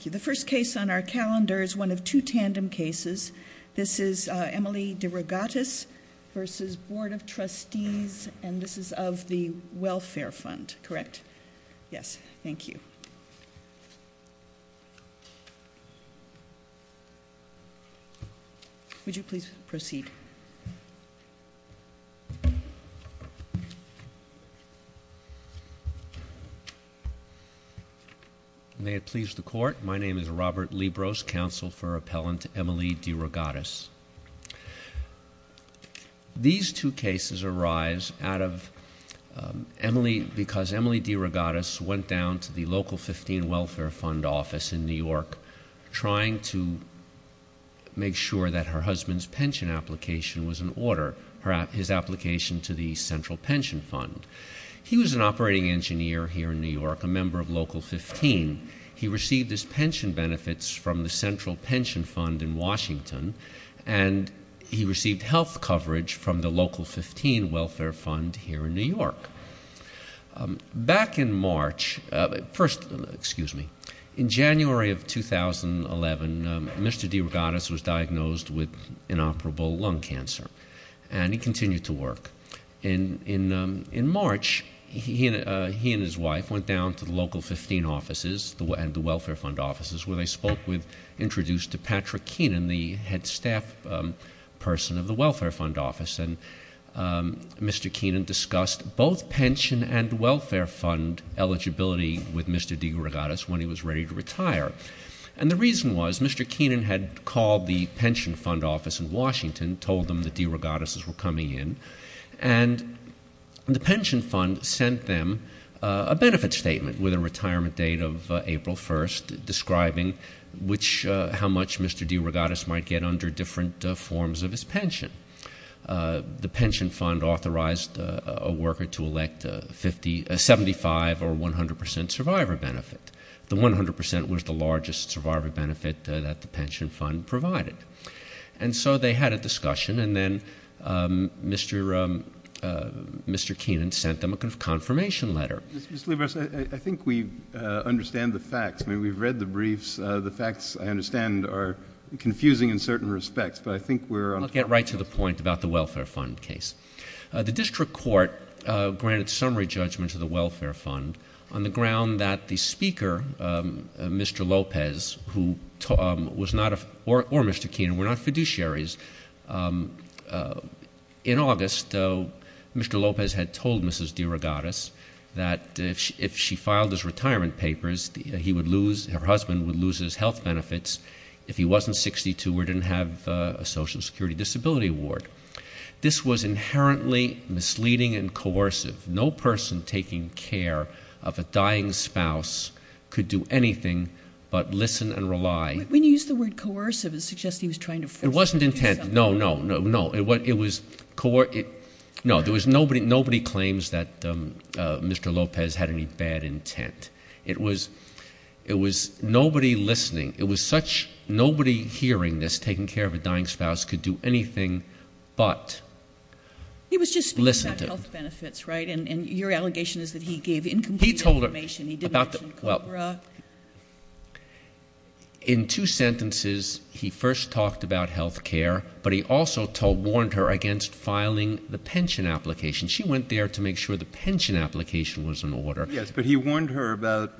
The first case on our calendar is one of two tandem cases. This is Emily Derogatis v. Board of Trustees, and this is of the Welfare Fund, correct? Yes, thank you. Would you please proceed? May it please the court. My name is Robert Libros, counsel for appellant Emily Derogatis. These two cases arise out of, because Emily Derogatis went down to the local 15 Welfare Fund office in New York, trying to make sure that her husband's pension application was in order, his application to the Central Pension Fund. He was an operating engineer here in New York, a member of Local 15. He received his pension benefits from the Central Pension Fund in Washington, and he received health coverage from the Local 15 Welfare Fund here in New York. Back in March, first, excuse me, in January of 2011, Mr. Derogatis was diagnosed with inoperable lung cancer, and he continued to work. In March, he and his wife went down to the Local 15 offices and the Welfare Fund offices, where they spoke with, introduced to Patrick Keenan, the head staff person of the Welfare Fund office. And Mr. Keenan discussed both pension and welfare fund eligibility with Mr. Derogatis when he was ready to retire. And the reason was, Mr. Keenan had called the Pension Fund office in Washington, told them the Derogatises were coming in, and the Pension Fund sent them a benefit statement with a retirement date of April 1st, which how much Mr. Derogatis might get under different forms of his pension. The Pension Fund authorized a worker to elect a 75 or 100% survivor benefit. The 100% was the largest survivor benefit that the Pension Fund provided. And so they had a discussion, and then Mr. Keenan sent them a confirmation letter. Mr. Libous, I think we understand the facts. I mean, we've read the briefs. The facts, I understand, are confusing in certain respects, but I think we're on top of the case. I'll get right to the point about the Welfare Fund case. The district court granted summary judgment to the Welfare Fund on the ground that the speaker, Mr. Lopez, who was not, or Mr. Keenan, were not fiduciaries. In August, Mr. Lopez had told Mrs. Derogatis that if she filed his retirement papers, he would lose, her husband would lose his health benefits if he wasn't 62 or didn't have a Social Security Disability Award. This was inherently misleading and coercive. No person taking care of a dying spouse could do anything but listen and rely. When you use the word coercive, it suggests he was trying to force something. It wasn't intent. No, no, no, no. It was, no, there was nobody, nobody claims that Mr. Lopez had any bad intent. It was, it was nobody listening. It was such, nobody hearing this, taking care of a dying spouse, could do anything but listen to him. He was just speaking about health benefits, right? And your allegation is that he gave incomplete information. He told her about the, well. In two sentences, he first talked about health care, but he also told, warned her against filing the pension application. She went there to make sure the pension application was in order. Yes, but he warned her about.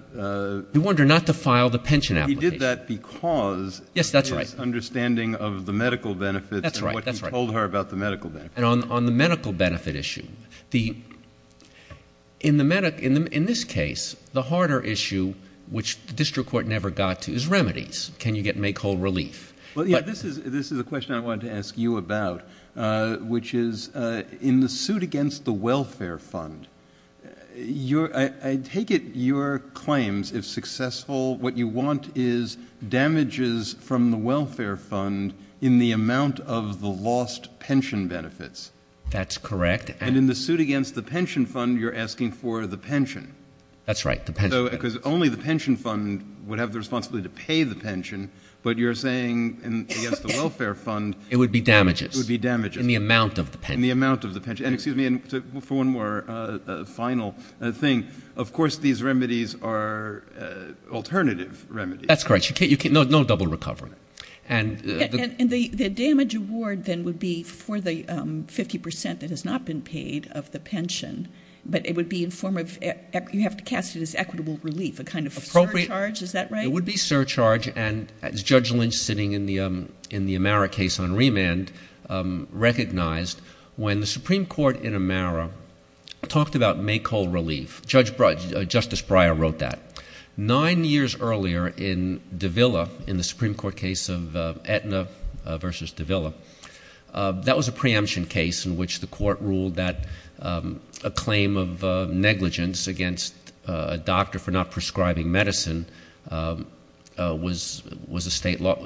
He warned her not to file the pension application. He did that because. Yes, that's right. His understanding of the medical benefits. That's right, that's right. And what he told her about the medical benefits. And on the medical benefit issue, the, in the medic, in this case, the harder issue, which the district court never got to, is remedies. Can you get, make whole relief? Well, yeah, this is a question I wanted to ask you about, which is in the suit against the welfare fund, your, I take it your claims, if successful, what you want is damages from the welfare fund in the amount of the lost pension benefits. That's correct. And in the suit against the pension fund, you're asking for the pension. That's right. Because only the pension fund would have the responsibility to pay the pension. But you're saying against the welfare fund. It would be damages. It would be damages. In the amount of the pension. In the amount of the pension. For one more final thing, of course these remedies are alternative remedies. That's correct. No double recovery. And the damage award then would be for the 50% that has not been paid of the pension. But it would be in form of, you have to cast it as equitable relief, a kind of surcharge, is that right? It would be surcharge. And as Judge Lynch, sitting in the Amara case on remand, recognized, when the Supreme Court in Amara talked about make whole relief, Justice Breyer wrote that. Nine years earlier in Davila, in the Supreme Court case of Aetna versus Davila, that was a preemption case in which the court ruled that a claim of negligence against a doctor for not prescribing medicine had a state law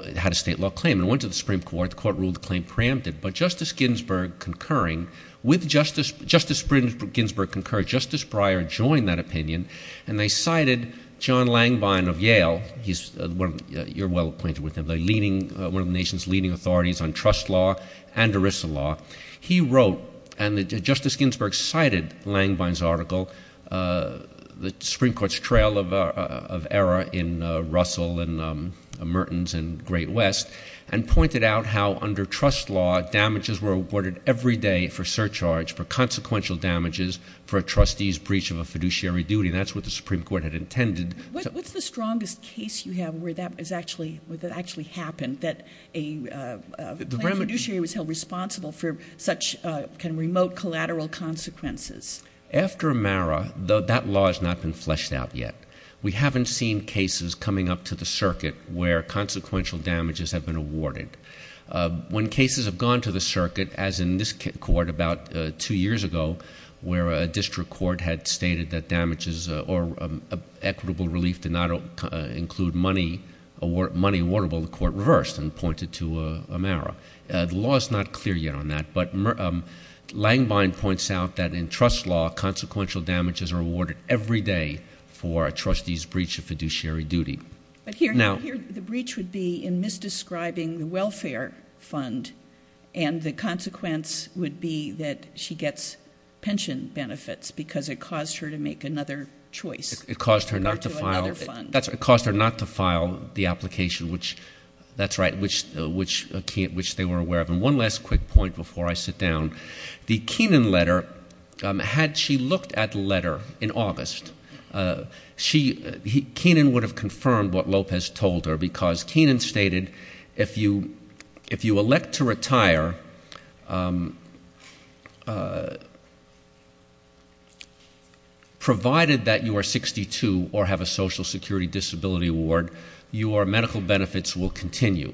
claim. It went to the Supreme Court. The court ruled the claim preempted. But Justice Ginsburg concurred. Justice Breyer joined that opinion. And they cited John Langbine of Yale. You're well acquainted with him. One of the nation's leading authorities on trust law and ERISA law. He wrote, and Justice Ginsburg cited Langbine's article, the Supreme Court's trail of error in Russell and Mertens and Great West, and pointed out how under trust law damages were awarded every day for surcharge for consequential damages for a trustee's breach of a fiduciary duty. And that's what the Supreme Court had intended. What's the strongest case you have where that actually happened, that a claim fiduciary was held responsible for such kind of remote collateral consequences? After Amara, that law has not been fleshed out yet. We haven't seen cases coming up to the circuit where consequential damages have been awarded. When cases have gone to the circuit, as in this court about two years ago, where a district court had stated that damages or equitable relief did not include money awardable, the court reversed and pointed to Amara. The law is not clear yet on that. But Langbine points out that in trust law, consequential damages are awarded every day for a trustee's breach of fiduciary duty. But here the breach would be in misdescribing the welfare fund, and the consequence would be that she gets pension benefits because it caused her to make another choice. It caused her not to file the application, which they were aware of. And one last quick point before I sit down. The Kenan letter, had she looked at the letter in August, Kenan would have confirmed what Lopez told her, because Kenan stated if you elect to retire, provided that you are 62 or have a social security disability award, your medical benefits will continue.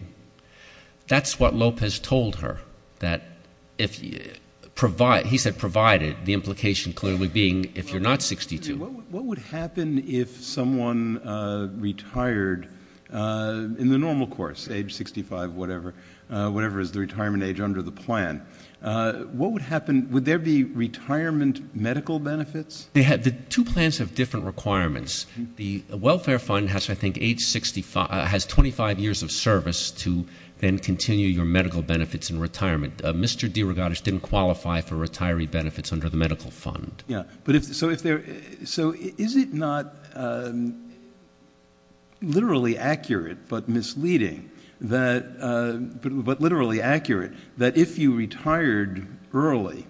That's what Lopez told her. He said provided, the implication clearly being if you're not 62. What would happen if someone retired in the normal course, age 65, whatever, whatever is the retirement age under the plan? What would happen? Would there be retirement medical benefits? The two plans have different requirements. The welfare fund has, I think, age 65, has 25 years of service to then continue your medical benefits in retirement. Mr. DeRogatis didn't qualify for retiree benefits under the medical fund. So is it not literally accurate but misleading, but literally accurate, that if you retired early,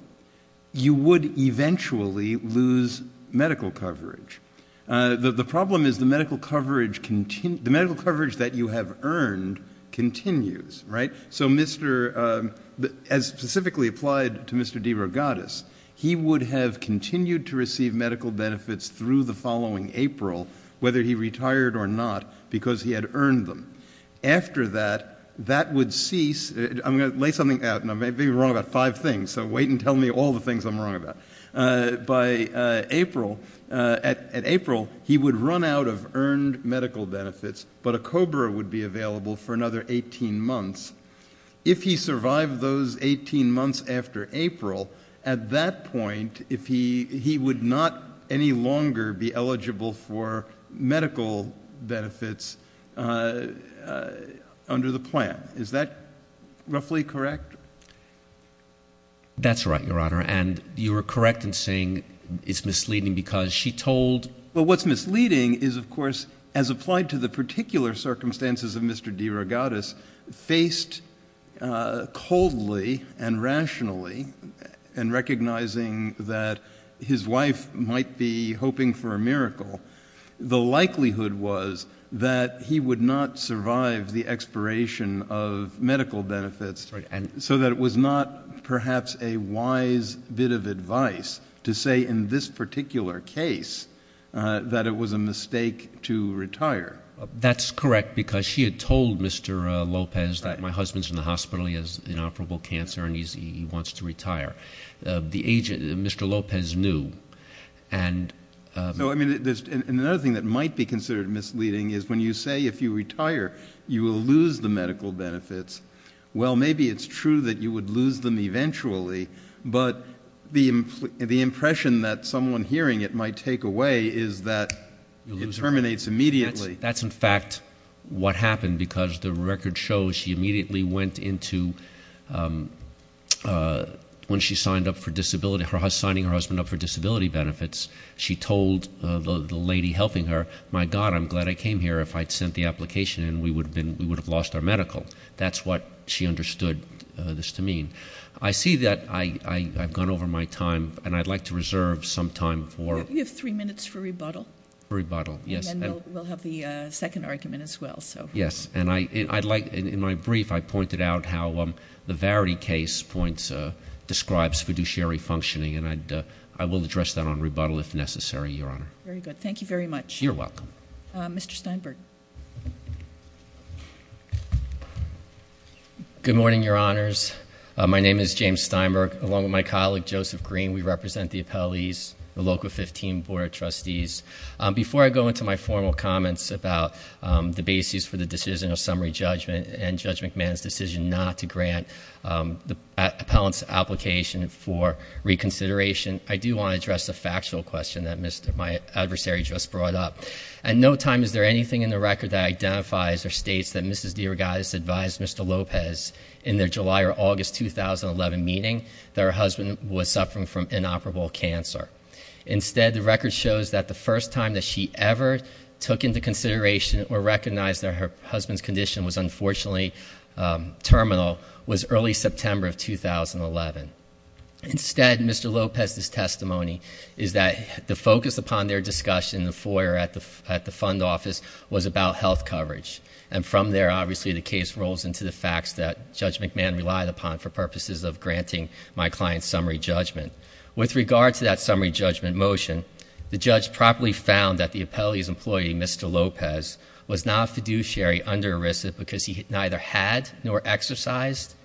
you would eventually lose medical coverage? The problem is the medical coverage that you have earned continues, right? As specifically applied to Mr. DeRogatis, he would have continued to receive medical benefits through the following April, whether he retired or not, because he had earned them. After that, that would cease. I'm going to lay something out, and I may be wrong about five things, so wait and tell me all the things I'm wrong about. By April, at April, he would run out of earned medical benefits, but a COBRA would be available for another 18 months. If he survived those 18 months after April, at that point, he would not any longer be eligible for medical benefits under the plan. Is that roughly correct? That's right, Your Honor, and you are correct in saying it's misleading because she told... Well, what's misleading is, of course, as applied to the particular circumstances of Mr. DeRogatis, faced coldly and rationally and recognizing that his wife might be hoping for a miracle, the likelihood was that he would not survive the expiration of medical benefits. So that it was not perhaps a wise bit of advice to say in this particular case that it was a mistake to retire. That's correct because she had told Mr. Lopez that my husband's in the hospital, he has inoperable cancer, and he wants to retire. The agent, Mr. Lopez, knew. So, I mean, another thing that might be considered misleading is when you say if you retire, you will lose the medical benefits. Well, maybe it's true that you would lose them eventually, but the impression that someone hearing it might take away is that it terminates immediately. That's in fact what happened because the record shows she immediately went into, when she signed up for disability, signing her husband up for disability benefits, she told the lady helping her, my God, I'm glad I came here. If I'd sent the application in, we would have lost our medical. That's what she understood this to mean. I see that I've gone over my time, and I'd like to reserve some time for- You have three minutes for rebuttal. For rebuttal, yes. And then we'll have the second argument as well, so. Yes, and I'd like, in my brief, I pointed out how the Varity case points, describes fiduciary functioning, and I will address that on rebuttal if necessary, Your Honor. Very good. Thank you very much. You're welcome. Mr. Steinberg. Good morning, Your Honors. My name is James Steinberg, along with my colleague, Joseph Green. We represent the appellees, the Local 15 Board of Trustees. Before I go into my formal comments about the basis for the decision of summary judgment and Judge McMahon's decision not to grant the appellant's application for reconsideration, I do want to address a factual question that my adversary just brought up. At no time is there anything in the record that identifies or states that Mrs. DeRogatis advised Mr. Lopez, in their July or August 2011 meeting, that her husband was suffering from inoperable cancer. Instead, the record shows that the first time that she ever took into consideration or recognized that her husband's condition was unfortunately terminal was early September of 2011. Instead, Mr. Lopez's testimony is that the focus upon their discussion in the foyer at the fund office was about health coverage, and from there, obviously, the case rolls into the facts that Judge McMahon relied upon for purposes of granting my client's summary judgment. With regard to that summary judgment motion, the judge properly found that the appellee's employee, Mr. Lopez, was not a fiduciary under ERISA because he neither had nor exercised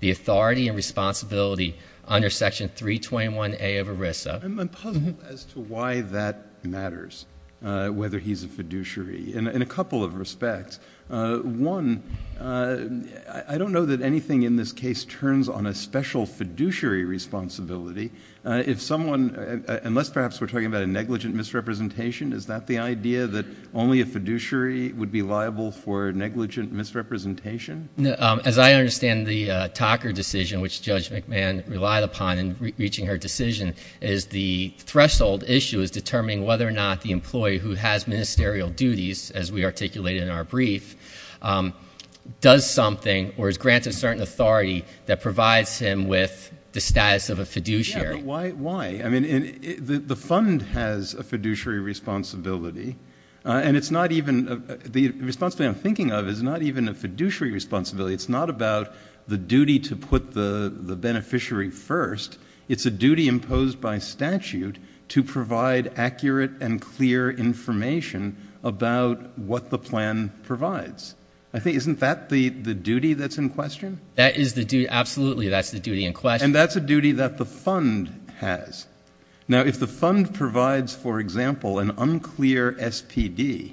the authority and responsibility under Section 321A of ERISA. I'm puzzled as to why that matters, whether he's a fiduciary, in a couple of respects. One, I don't know that anything in this case turns on a special fiduciary responsibility. If someone, unless perhaps we're talking about a negligent misrepresentation, is that the idea that only a fiduciary would be liable for negligent misrepresentation? As I understand the Talker decision, which Judge McMahon relied upon in reaching her decision, is the threshold issue is determining whether or not the employee who has ministerial duties, as we articulated in our brief, does something or is granted certain authority that provides him with the status of a fiduciary. Yeah, but why? I mean, the fund has a fiduciary responsibility, and it's not even—the responsibility I'm thinking of is not even a fiduciary responsibility. It's not about the duty to put the beneficiary first. It's a duty imposed by statute to provide accurate and clear information about what the plan provides. I think—isn't that the duty that's in question? That is the duty—absolutely, that's the duty in question. And that's a duty that the fund has. Now, if the fund provides, for example, an unclear SPD,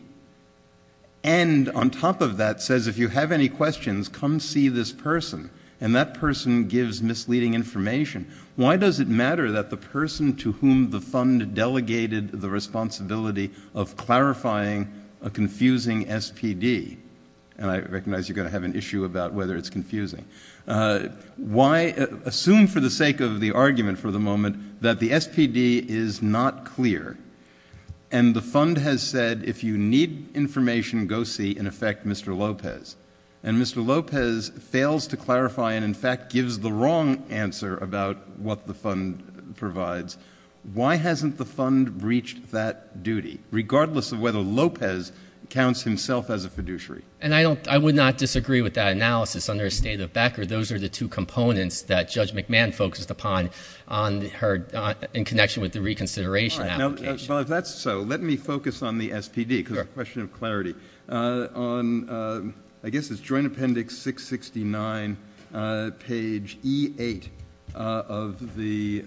and on top of that says, if you have any questions, come see this person, and that person gives misleading information, why does it matter that the person to whom the fund delegated the responsibility of clarifying a confusing SPD— and I recognize you're going to have an issue about whether it's confusing— why—assume for the sake of the argument for the moment that the SPD is not clear, and the fund has said, if you need information, go see, in effect, Mr. Lopez, and Mr. Lopez fails to clarify and, in fact, gives the wrong answer about what the fund provides, why hasn't the fund reached that duty, regardless of whether Lopez counts himself as a fiduciary? And I don't—I would not disagree with that analysis under a State of Becker. Those are the two components that Judge McMahon focused upon on her—in connection with the reconsideration application. Well, if that's so, let me focus on the SPD because of a question of clarity. On—I guess it's Joint Appendix 669, page E-8 of the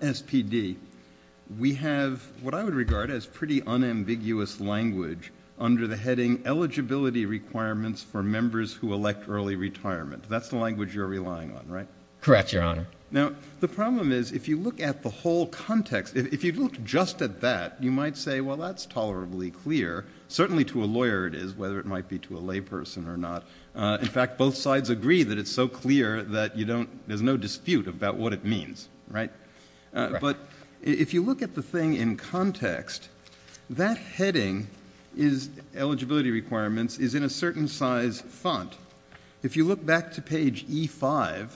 SPD, we have what I would regard as pretty unambiguous language under the heading Eligibility Requirements for Members Who Elect Early Retirement. That's the language you're relying on, right? Correct, Your Honor. Now, the problem is, if you look at the whole context, if you looked just at that, you might say, well, that's tolerably clear, certainly to a lawyer it is, whether it might be to a layperson or not. In fact, both sides agree that it's so clear that you don't—there's no dispute about what it means, right? Correct. But if you look at the thing in context, that heading is Eligibility Requirements is in a certain size font. If you look back to page E-5,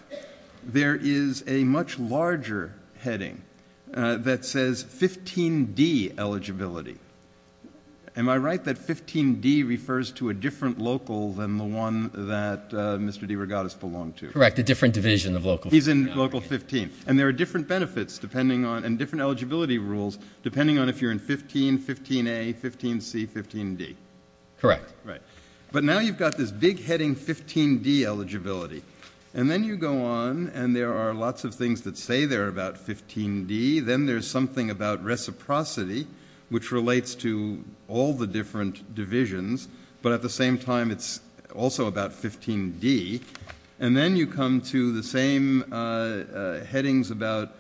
there is a much larger heading that says 15D, Eligibility. Am I right that 15D refers to a different local than the one that Mr. DeRogatis belonged to? Correct, a different division of Local 15. He's in Local 15. And there are different benefits depending on—and different eligibility rules depending on if you're in 15, 15A, 15C, 15D. Correct. But now you've got this big heading 15D, Eligibility. And then you go on, and there are lots of things that say they're about 15D. Then there's something about Reciprocity, which relates to all the different divisions. But at the same time, it's also about 15D. And then you come to the same headings about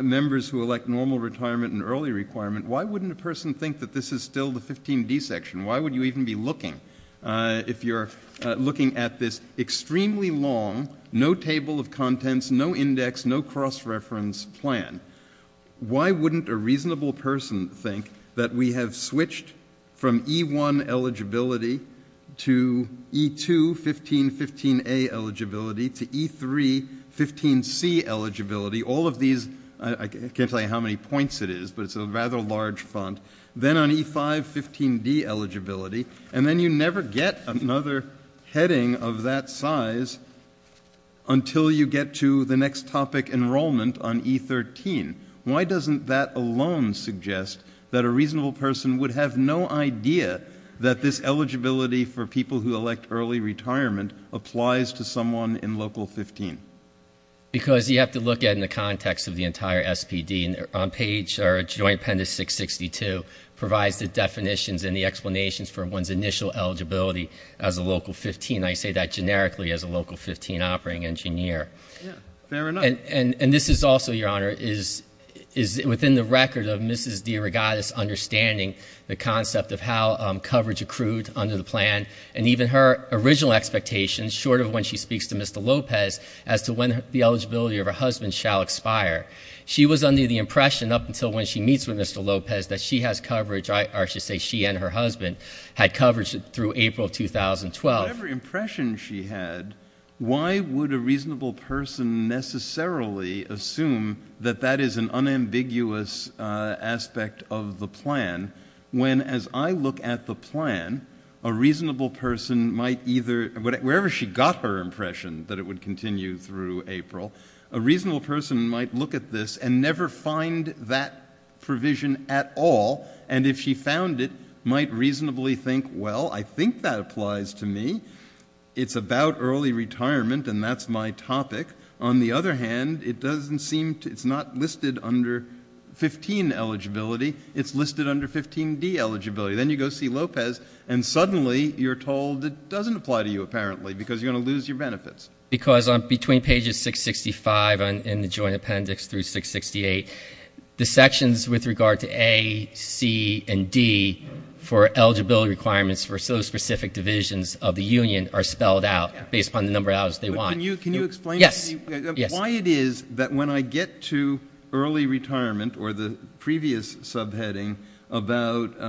members who elect Normal Retirement and Early Requirement. Why wouldn't a person think that this is still the 15D section? Why would you even be looking if you're looking at this extremely long, no table of contents, no index, no cross-reference plan? Why wouldn't a reasonable person think that we have switched from E-1, Eligibility, to E-2, 15, 15A, Eligibility, to E-3, 15C, Eligibility? All of these—I can't tell you how many points it is, but it's a rather large font. Then on E-5, 15D, Eligibility. And then you never get another heading of that size until you get to the next topic, Enrollment, on E-13. Why doesn't that alone suggest that a reasonable person would have no idea that this eligibility for people who elect Early Retirement applies to someone in Local 15? Because you have to look at it in the context of the entire SPD. On page—or Joint Appendix 662 provides the definitions and the explanations for one's initial eligibility as a Local 15. I say that generically as a Local 15 operating engineer. Yeah, fair enough. And this is also, Your Honor, is within the record of Mrs. DeRogatis understanding the concept of how coverage accrued under the plan. And even her original expectations, short of when she speaks to Mr. Lopez, as to when the eligibility of her husband shall expire. She was under the impression up until when she meets with Mr. Lopez that she has coverage—or I should say she and her husband had coverage through April 2012. Whatever impression she had, why would a reasonable person necessarily assume that that is an unambiguous aspect of the plan? When, as I look at the plan, a reasonable person might either—wherever she got her impression that it would continue through April—a reasonable person might look at this and never find that provision at all. And if she found it, might reasonably think, well, I think that applies to me. It's about Early Retirement, and that's my topic. On the other hand, it doesn't seem to—it's not listed under 15 eligibility. It's listed under 15D eligibility. Then you go see Lopez, and suddenly you're told it doesn't apply to you, apparently, because you're going to lose your benefits. Because between pages 665 in the Joint Appendix through 668, the sections with regard to A, C, and D for eligibility requirements for so specific divisions of the union are spelled out based upon the number of hours they want. Can you explain to me why it is that when I get to Early Retirement or the previous subheading about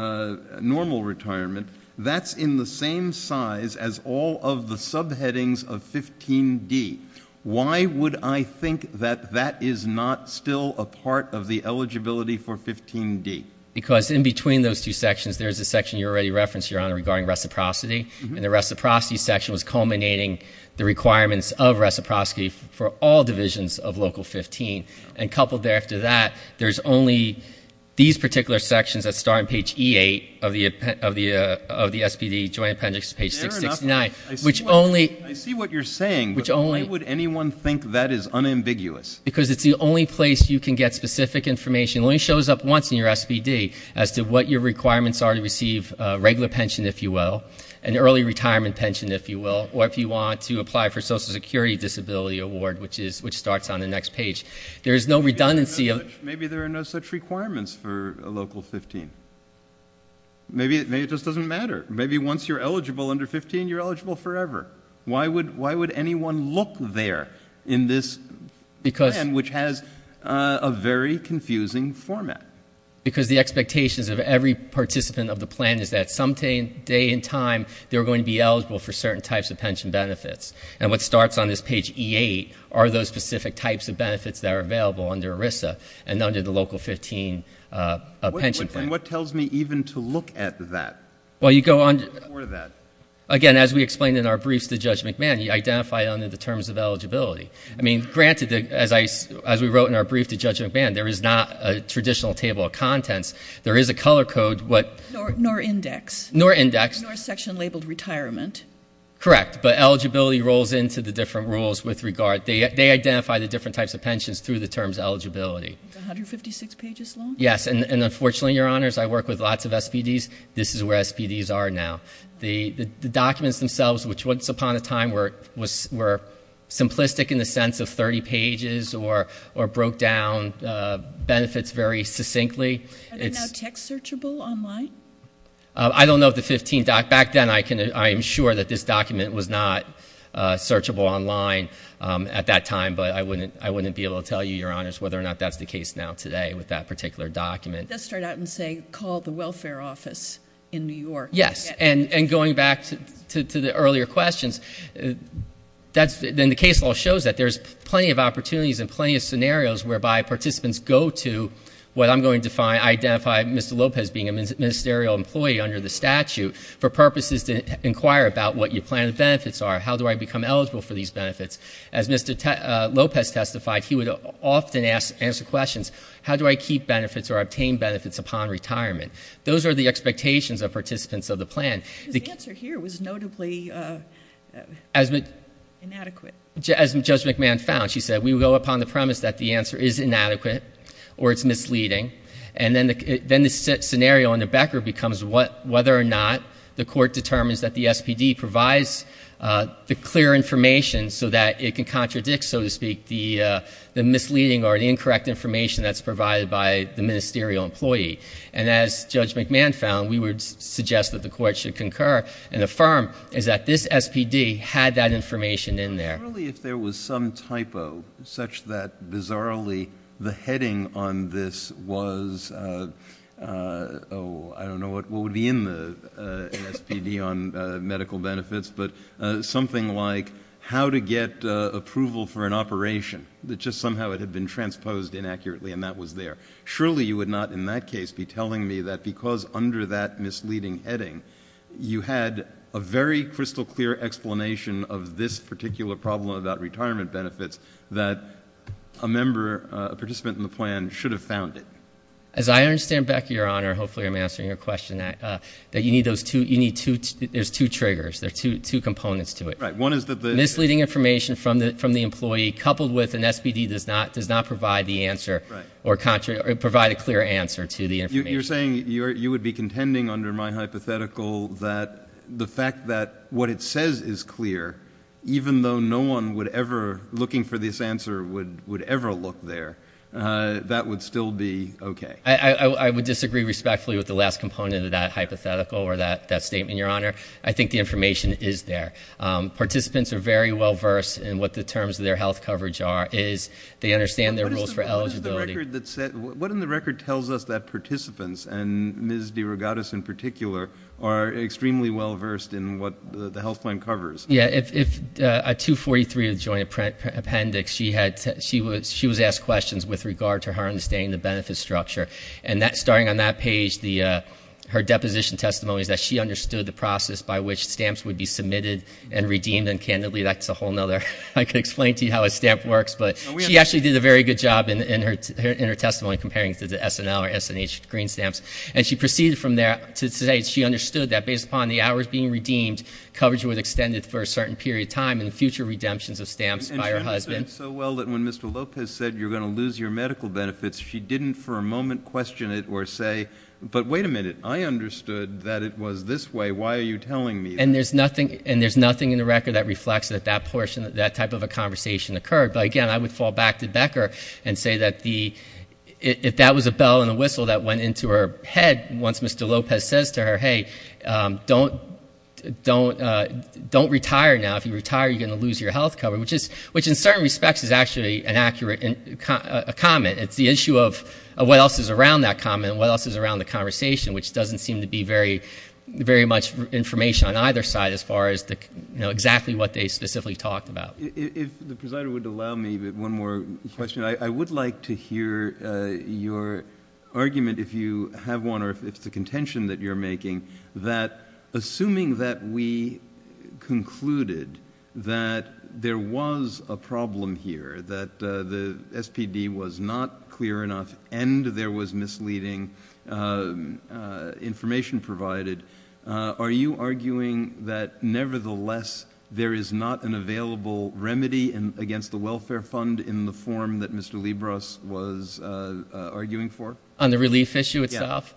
Normal Retirement, that's in the same size as all of the subheadings of 15D? Why would I think that that is not still a part of the eligibility for 15D? Because in between those two sections, there's a section you already referenced, Your Honor, regarding reciprocity. And the reciprocity section was culminating the requirements of reciprocity for all divisions of Local 15. And coupled there after that, there's only these particular sections that start on page E8 of the SPD Joint Appendix, page 669. Fair enough. I see what you're saying, but why would anyone think that is unambiguous? Because it's the only place you can get specific information. It only shows up once in your SPD as to what your requirements are to receive regular pension, if you will, and Early Retirement pension, if you will, or if you want to apply for Social Security Disability Award, which starts on the next page. There is no redundancy. Maybe there are no such requirements for Local 15. Maybe it just doesn't matter. Maybe once you're eligible under 15, you're eligible forever. Why would anyone look there in this plan, which has a very confusing format? Because the expectations of every participant of the plan is that some day in time, they're going to be eligible for certain types of pension benefits. And what starts on this page E8 are those specific types of benefits that are available under ERISA and under the Local 15 pension plan. And what tells me even to look at that? Well, you go on to the next page. You identify under the terms of eligibility. I mean, granted, as we wrote in our brief to Judge McMahon, there is not a traditional table of contents. There is a color code. Nor index. Nor index. Nor section labeled retirement. Correct, but eligibility rolls into the different rules with regard. They identify the different types of pensions through the terms eligibility. It's 156 pages long? Yes, and unfortunately, Your Honors, I work with lots of SPDs. This is where SPDs are now. The documents themselves, which once upon a time were simplistic in the sense of 30 pages or broke down benefits very succinctly. Are they now text searchable online? I don't know of the 15. Back then, I am sure that this document was not searchable online at that time, but I wouldn't be able to tell you, Your Honors, whether or not that's the case now today with that particular document. Let's start out and say call the welfare office in New York. Yes, and going back to the earlier questions, then the case law shows that there's plenty of opportunities and plenty of scenarios whereby participants go to what I'm going to identify Mr. Lopez being a ministerial employee under the statute for purposes to inquire about what your plan of benefits are. How do I become eligible for these benefits? As Mr. Lopez testified, he would often answer questions. How do I keep benefits or obtain benefits upon retirement? Those are the expectations of participants of the plan. His answer here was notably inadequate. As Judge McMahon found, she said, we will go upon the premise that the answer is inadequate or it's misleading, and then the scenario under Becker becomes whether or not the court determines that the SPD provides the clear information so that it can contradict, so to speak, the misleading or the incorrect information that's provided by the ministerial employee. And as Judge McMahon found, we would suggest that the court should concur and affirm that this SPD had that information in there. Surely if there was some typo such that bizarrely the heading on this was, oh, I don't know what would be in the SPD on medical benefits, but something like how to get approval for an operation, that just somehow it had been transposed inaccurately and that was there. Surely you would not in that case be telling me that because under that misleading heading, you had a very crystal clear explanation of this particular problem about retirement benefits that a member, a participant in the plan should have found it. As I understand, Becker, Your Honor, hopefully I'm answering your question, that you need those two, you need two, there's two triggers. There are two components to it. Right. One is that the misleading information from the employee coupled with an SPD does not provide the answer or provide a clear answer to the information. You're saying you would be contending under my hypothetical that the fact that what it says is clear, even though no one looking for this answer would ever look there, that would still be okay. I would disagree respectfully with the last component of that hypothetical or that statement, Your Honor. I think the information is there. Participants are very well versed in what the terms of their health coverage are. They understand their rules for eligibility. What in the record tells us that participants, and Ms. DeRogatis in particular, are extremely well versed in what the health plan covers? Yeah. At 243, the joint appendix, she was asked questions with regard to her understanding of the benefit structure. And starting on that page, her deposition testimony is that she understood the process by which stamps would be submitted and redeemed. And, candidly, that's a whole other, I could explain to you how a stamp works, but she actually did a very good job in her testimony comparing it to the SNL or SNH green stamps. And she proceeded from there to say she understood that based upon the hours being redeemed, coverage was extended for a certain period of time in the future redemptions of stamps by her husband. And she understood it so well that when Mr. Lopez said you're going to lose your medical benefits, she didn't for a moment question it or say, but wait a minute, I understood that it was this way. Why are you telling me that? And there's nothing in the record that reflects that that portion, that type of a conversation occurred. But, again, I would fall back to Becker and say that if that was a bell and a whistle that went into her head, once Mr. Lopez says to her, hey, don't retire now. If you retire, you're going to lose your health coverage, which in certain respects is actually an accurate comment. It's the issue of what else is around that comment and what else is around the conversation, which doesn't seem to be very much information on either side as far as exactly what they specifically talked about. If the presider would allow me one more question. I would like to hear your argument, if you have one, or if it's the contention that you're making, that assuming that we concluded that there was a problem here, that the SPD was not clear enough and there was misleading information provided, are you arguing that nevertheless there is not an available remedy against the welfare fund in the form that Mr. Libros was arguing for? On the relief issue itself?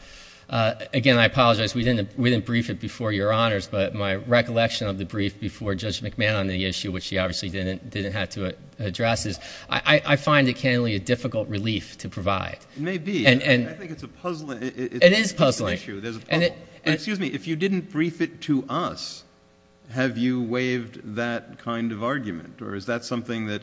Yes. Again, I apologize. We didn't brief it before, Your Honors, but my recollection of the brief before Judge McMahon on the issue, which he obviously didn't have to address, is I find it cannily a difficult relief to provide. It may be. I think it's a puzzling issue. It is puzzling. There's a problem. Excuse me. If you didn't brief it to us, have you waived that kind of argument, or is that something that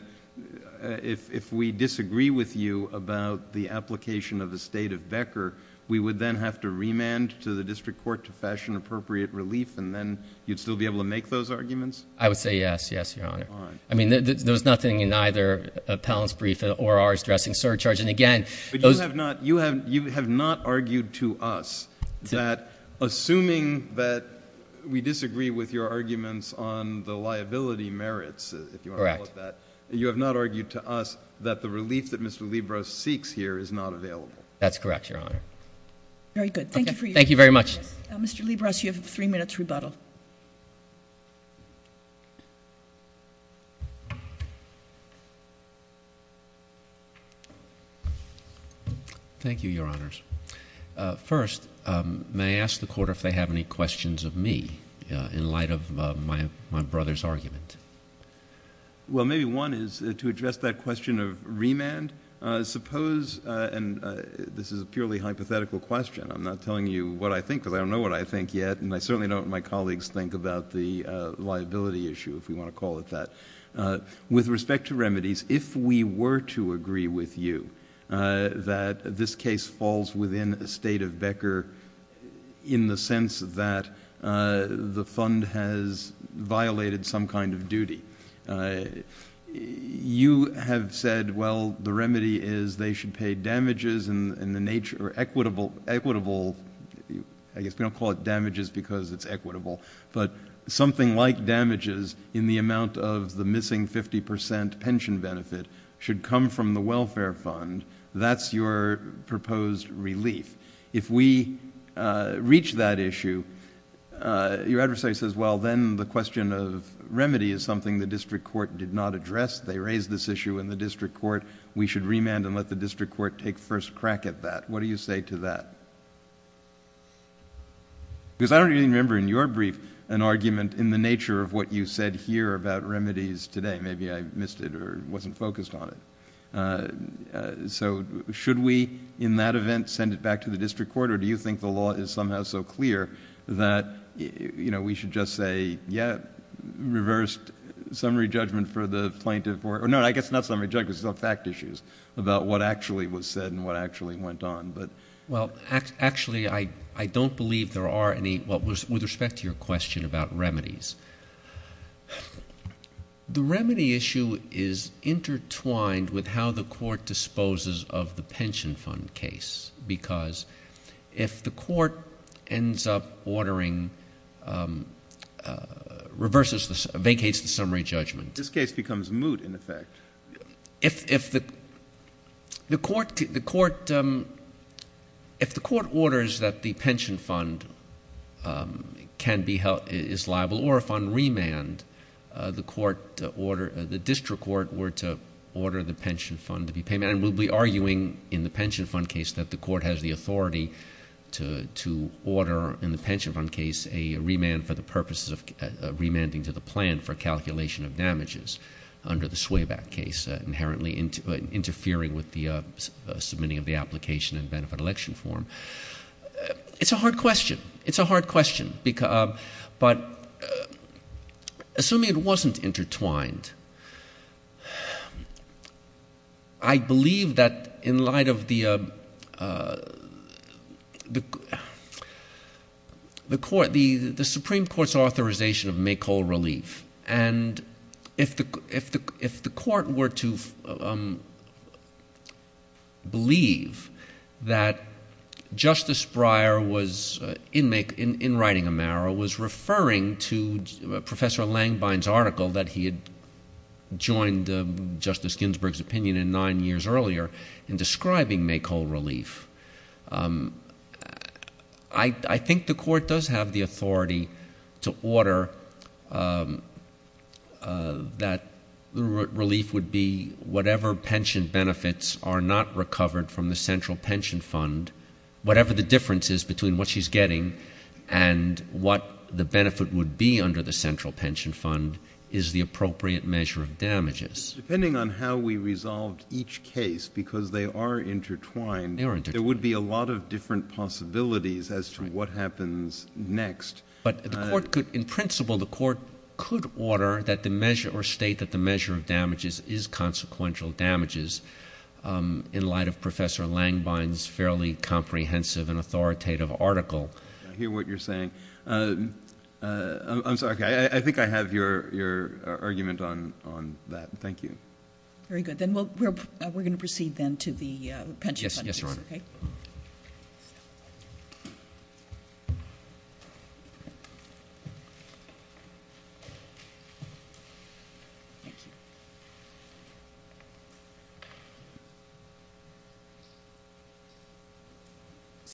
if we disagree with you about the application of the state of Becker, we would then have to remand to the district court to fashion appropriate relief, and then you'd still be able to make those arguments? I would say yes, yes, Your Honor. Fine. I mean, there was nothing in either appellant's brief or ours addressing surcharge. But you have not argued to us that assuming that we disagree with your arguments on the liability merits, if you want to call it that, you have not argued to us that the relief that Mr. Libros seeks here is not available. That's correct, Your Honor. Very good. Thank you for your time. Thank you very much. Mr. Libros, you have three minutes rebuttal. Thank you, Your Honors. First, may I ask the Court if they have any questions of me in light of my brother's argument? Well, maybe one is to address that question of remand. Suppose, and this is a purely hypothetical question. I'm not telling you what I think because I don't know what I think yet, and I certainly don't and my colleagues think about the liability issue, if we want to call it that. With respect to remedies, if we were to agree with you that this case falls within the state of Becker in the sense that the fund has violated some kind of duty, you have said, well, the remedy is they should pay damages in the nature of equitable, I guess we don't call it damages because it's equitable, but something like damages in the amount of the missing 50 percent pension benefit should come from the welfare fund. That's your proposed relief. If we reach that issue, your adversary says, well, then the question of remedy is something the district court did not address. They raised this issue in the district court. We should remand and let the district court take first crack at that. What do you say to that? Because I don't even remember in your brief an argument in the nature of what you said here about remedies today. Maybe I missed it or wasn't focused on it. So should we in that event send it back to the district court, or do you think the law is somehow so clear that we should just say, yeah, reversed summary judgment for the plaintiff, or no, I guess not summary judgment, because it's not fact issues about what actually was said and what actually went on. Well, actually, I don't believe there are any, with respect to your question about remedies, the remedy issue is intertwined with how the court disposes of the pension fund case, because if the court ends up ordering, reverses, vacates the summary judgment. This case becomes moot in effect. If the court orders that the pension fund can be held, is liable, or if on remand the district court were to order the pension fund to be paid, and we'll be arguing in the pension fund case that the court has the authority to order, in the pension fund case, a remand for the purposes of remanding to the plan for calculation of damages, under the Swayback case, inherently interfering with the submitting of the application and benefit election form. It's a hard question. It's a hard question, but assuming it wasn't intertwined, I believe that in light of the Supreme Court's authorization of make whole relief, and if the court were to believe that Justice Breyer was, in writing Amaro, was referring to Professor Langbein's article that he had joined Justice Ginsburg's opinion in nine years earlier, in describing make whole relief, I think the court does have the authority to order that relief would be whatever pension benefits are not recovered from the central pension fund, whatever the difference is between what she's getting and what the benefit would be under the central pension fund, is the appropriate measure of damages. Depending on how we resolved each case, because they are intertwined, there would be a lot of different possibilities as to what happens next. But the court could, in principle, the court could order that the measure, or state that the measure of damages is consequential damages, in light of Professor Langbein's fairly comprehensive and authoritative article. I hear what you're saying. I'm sorry. I think I have your argument on that. Thank you. Very good. Then we're going to proceed then to the pension fund. Yes, Your Honor. Okay. Thank you. Thank you.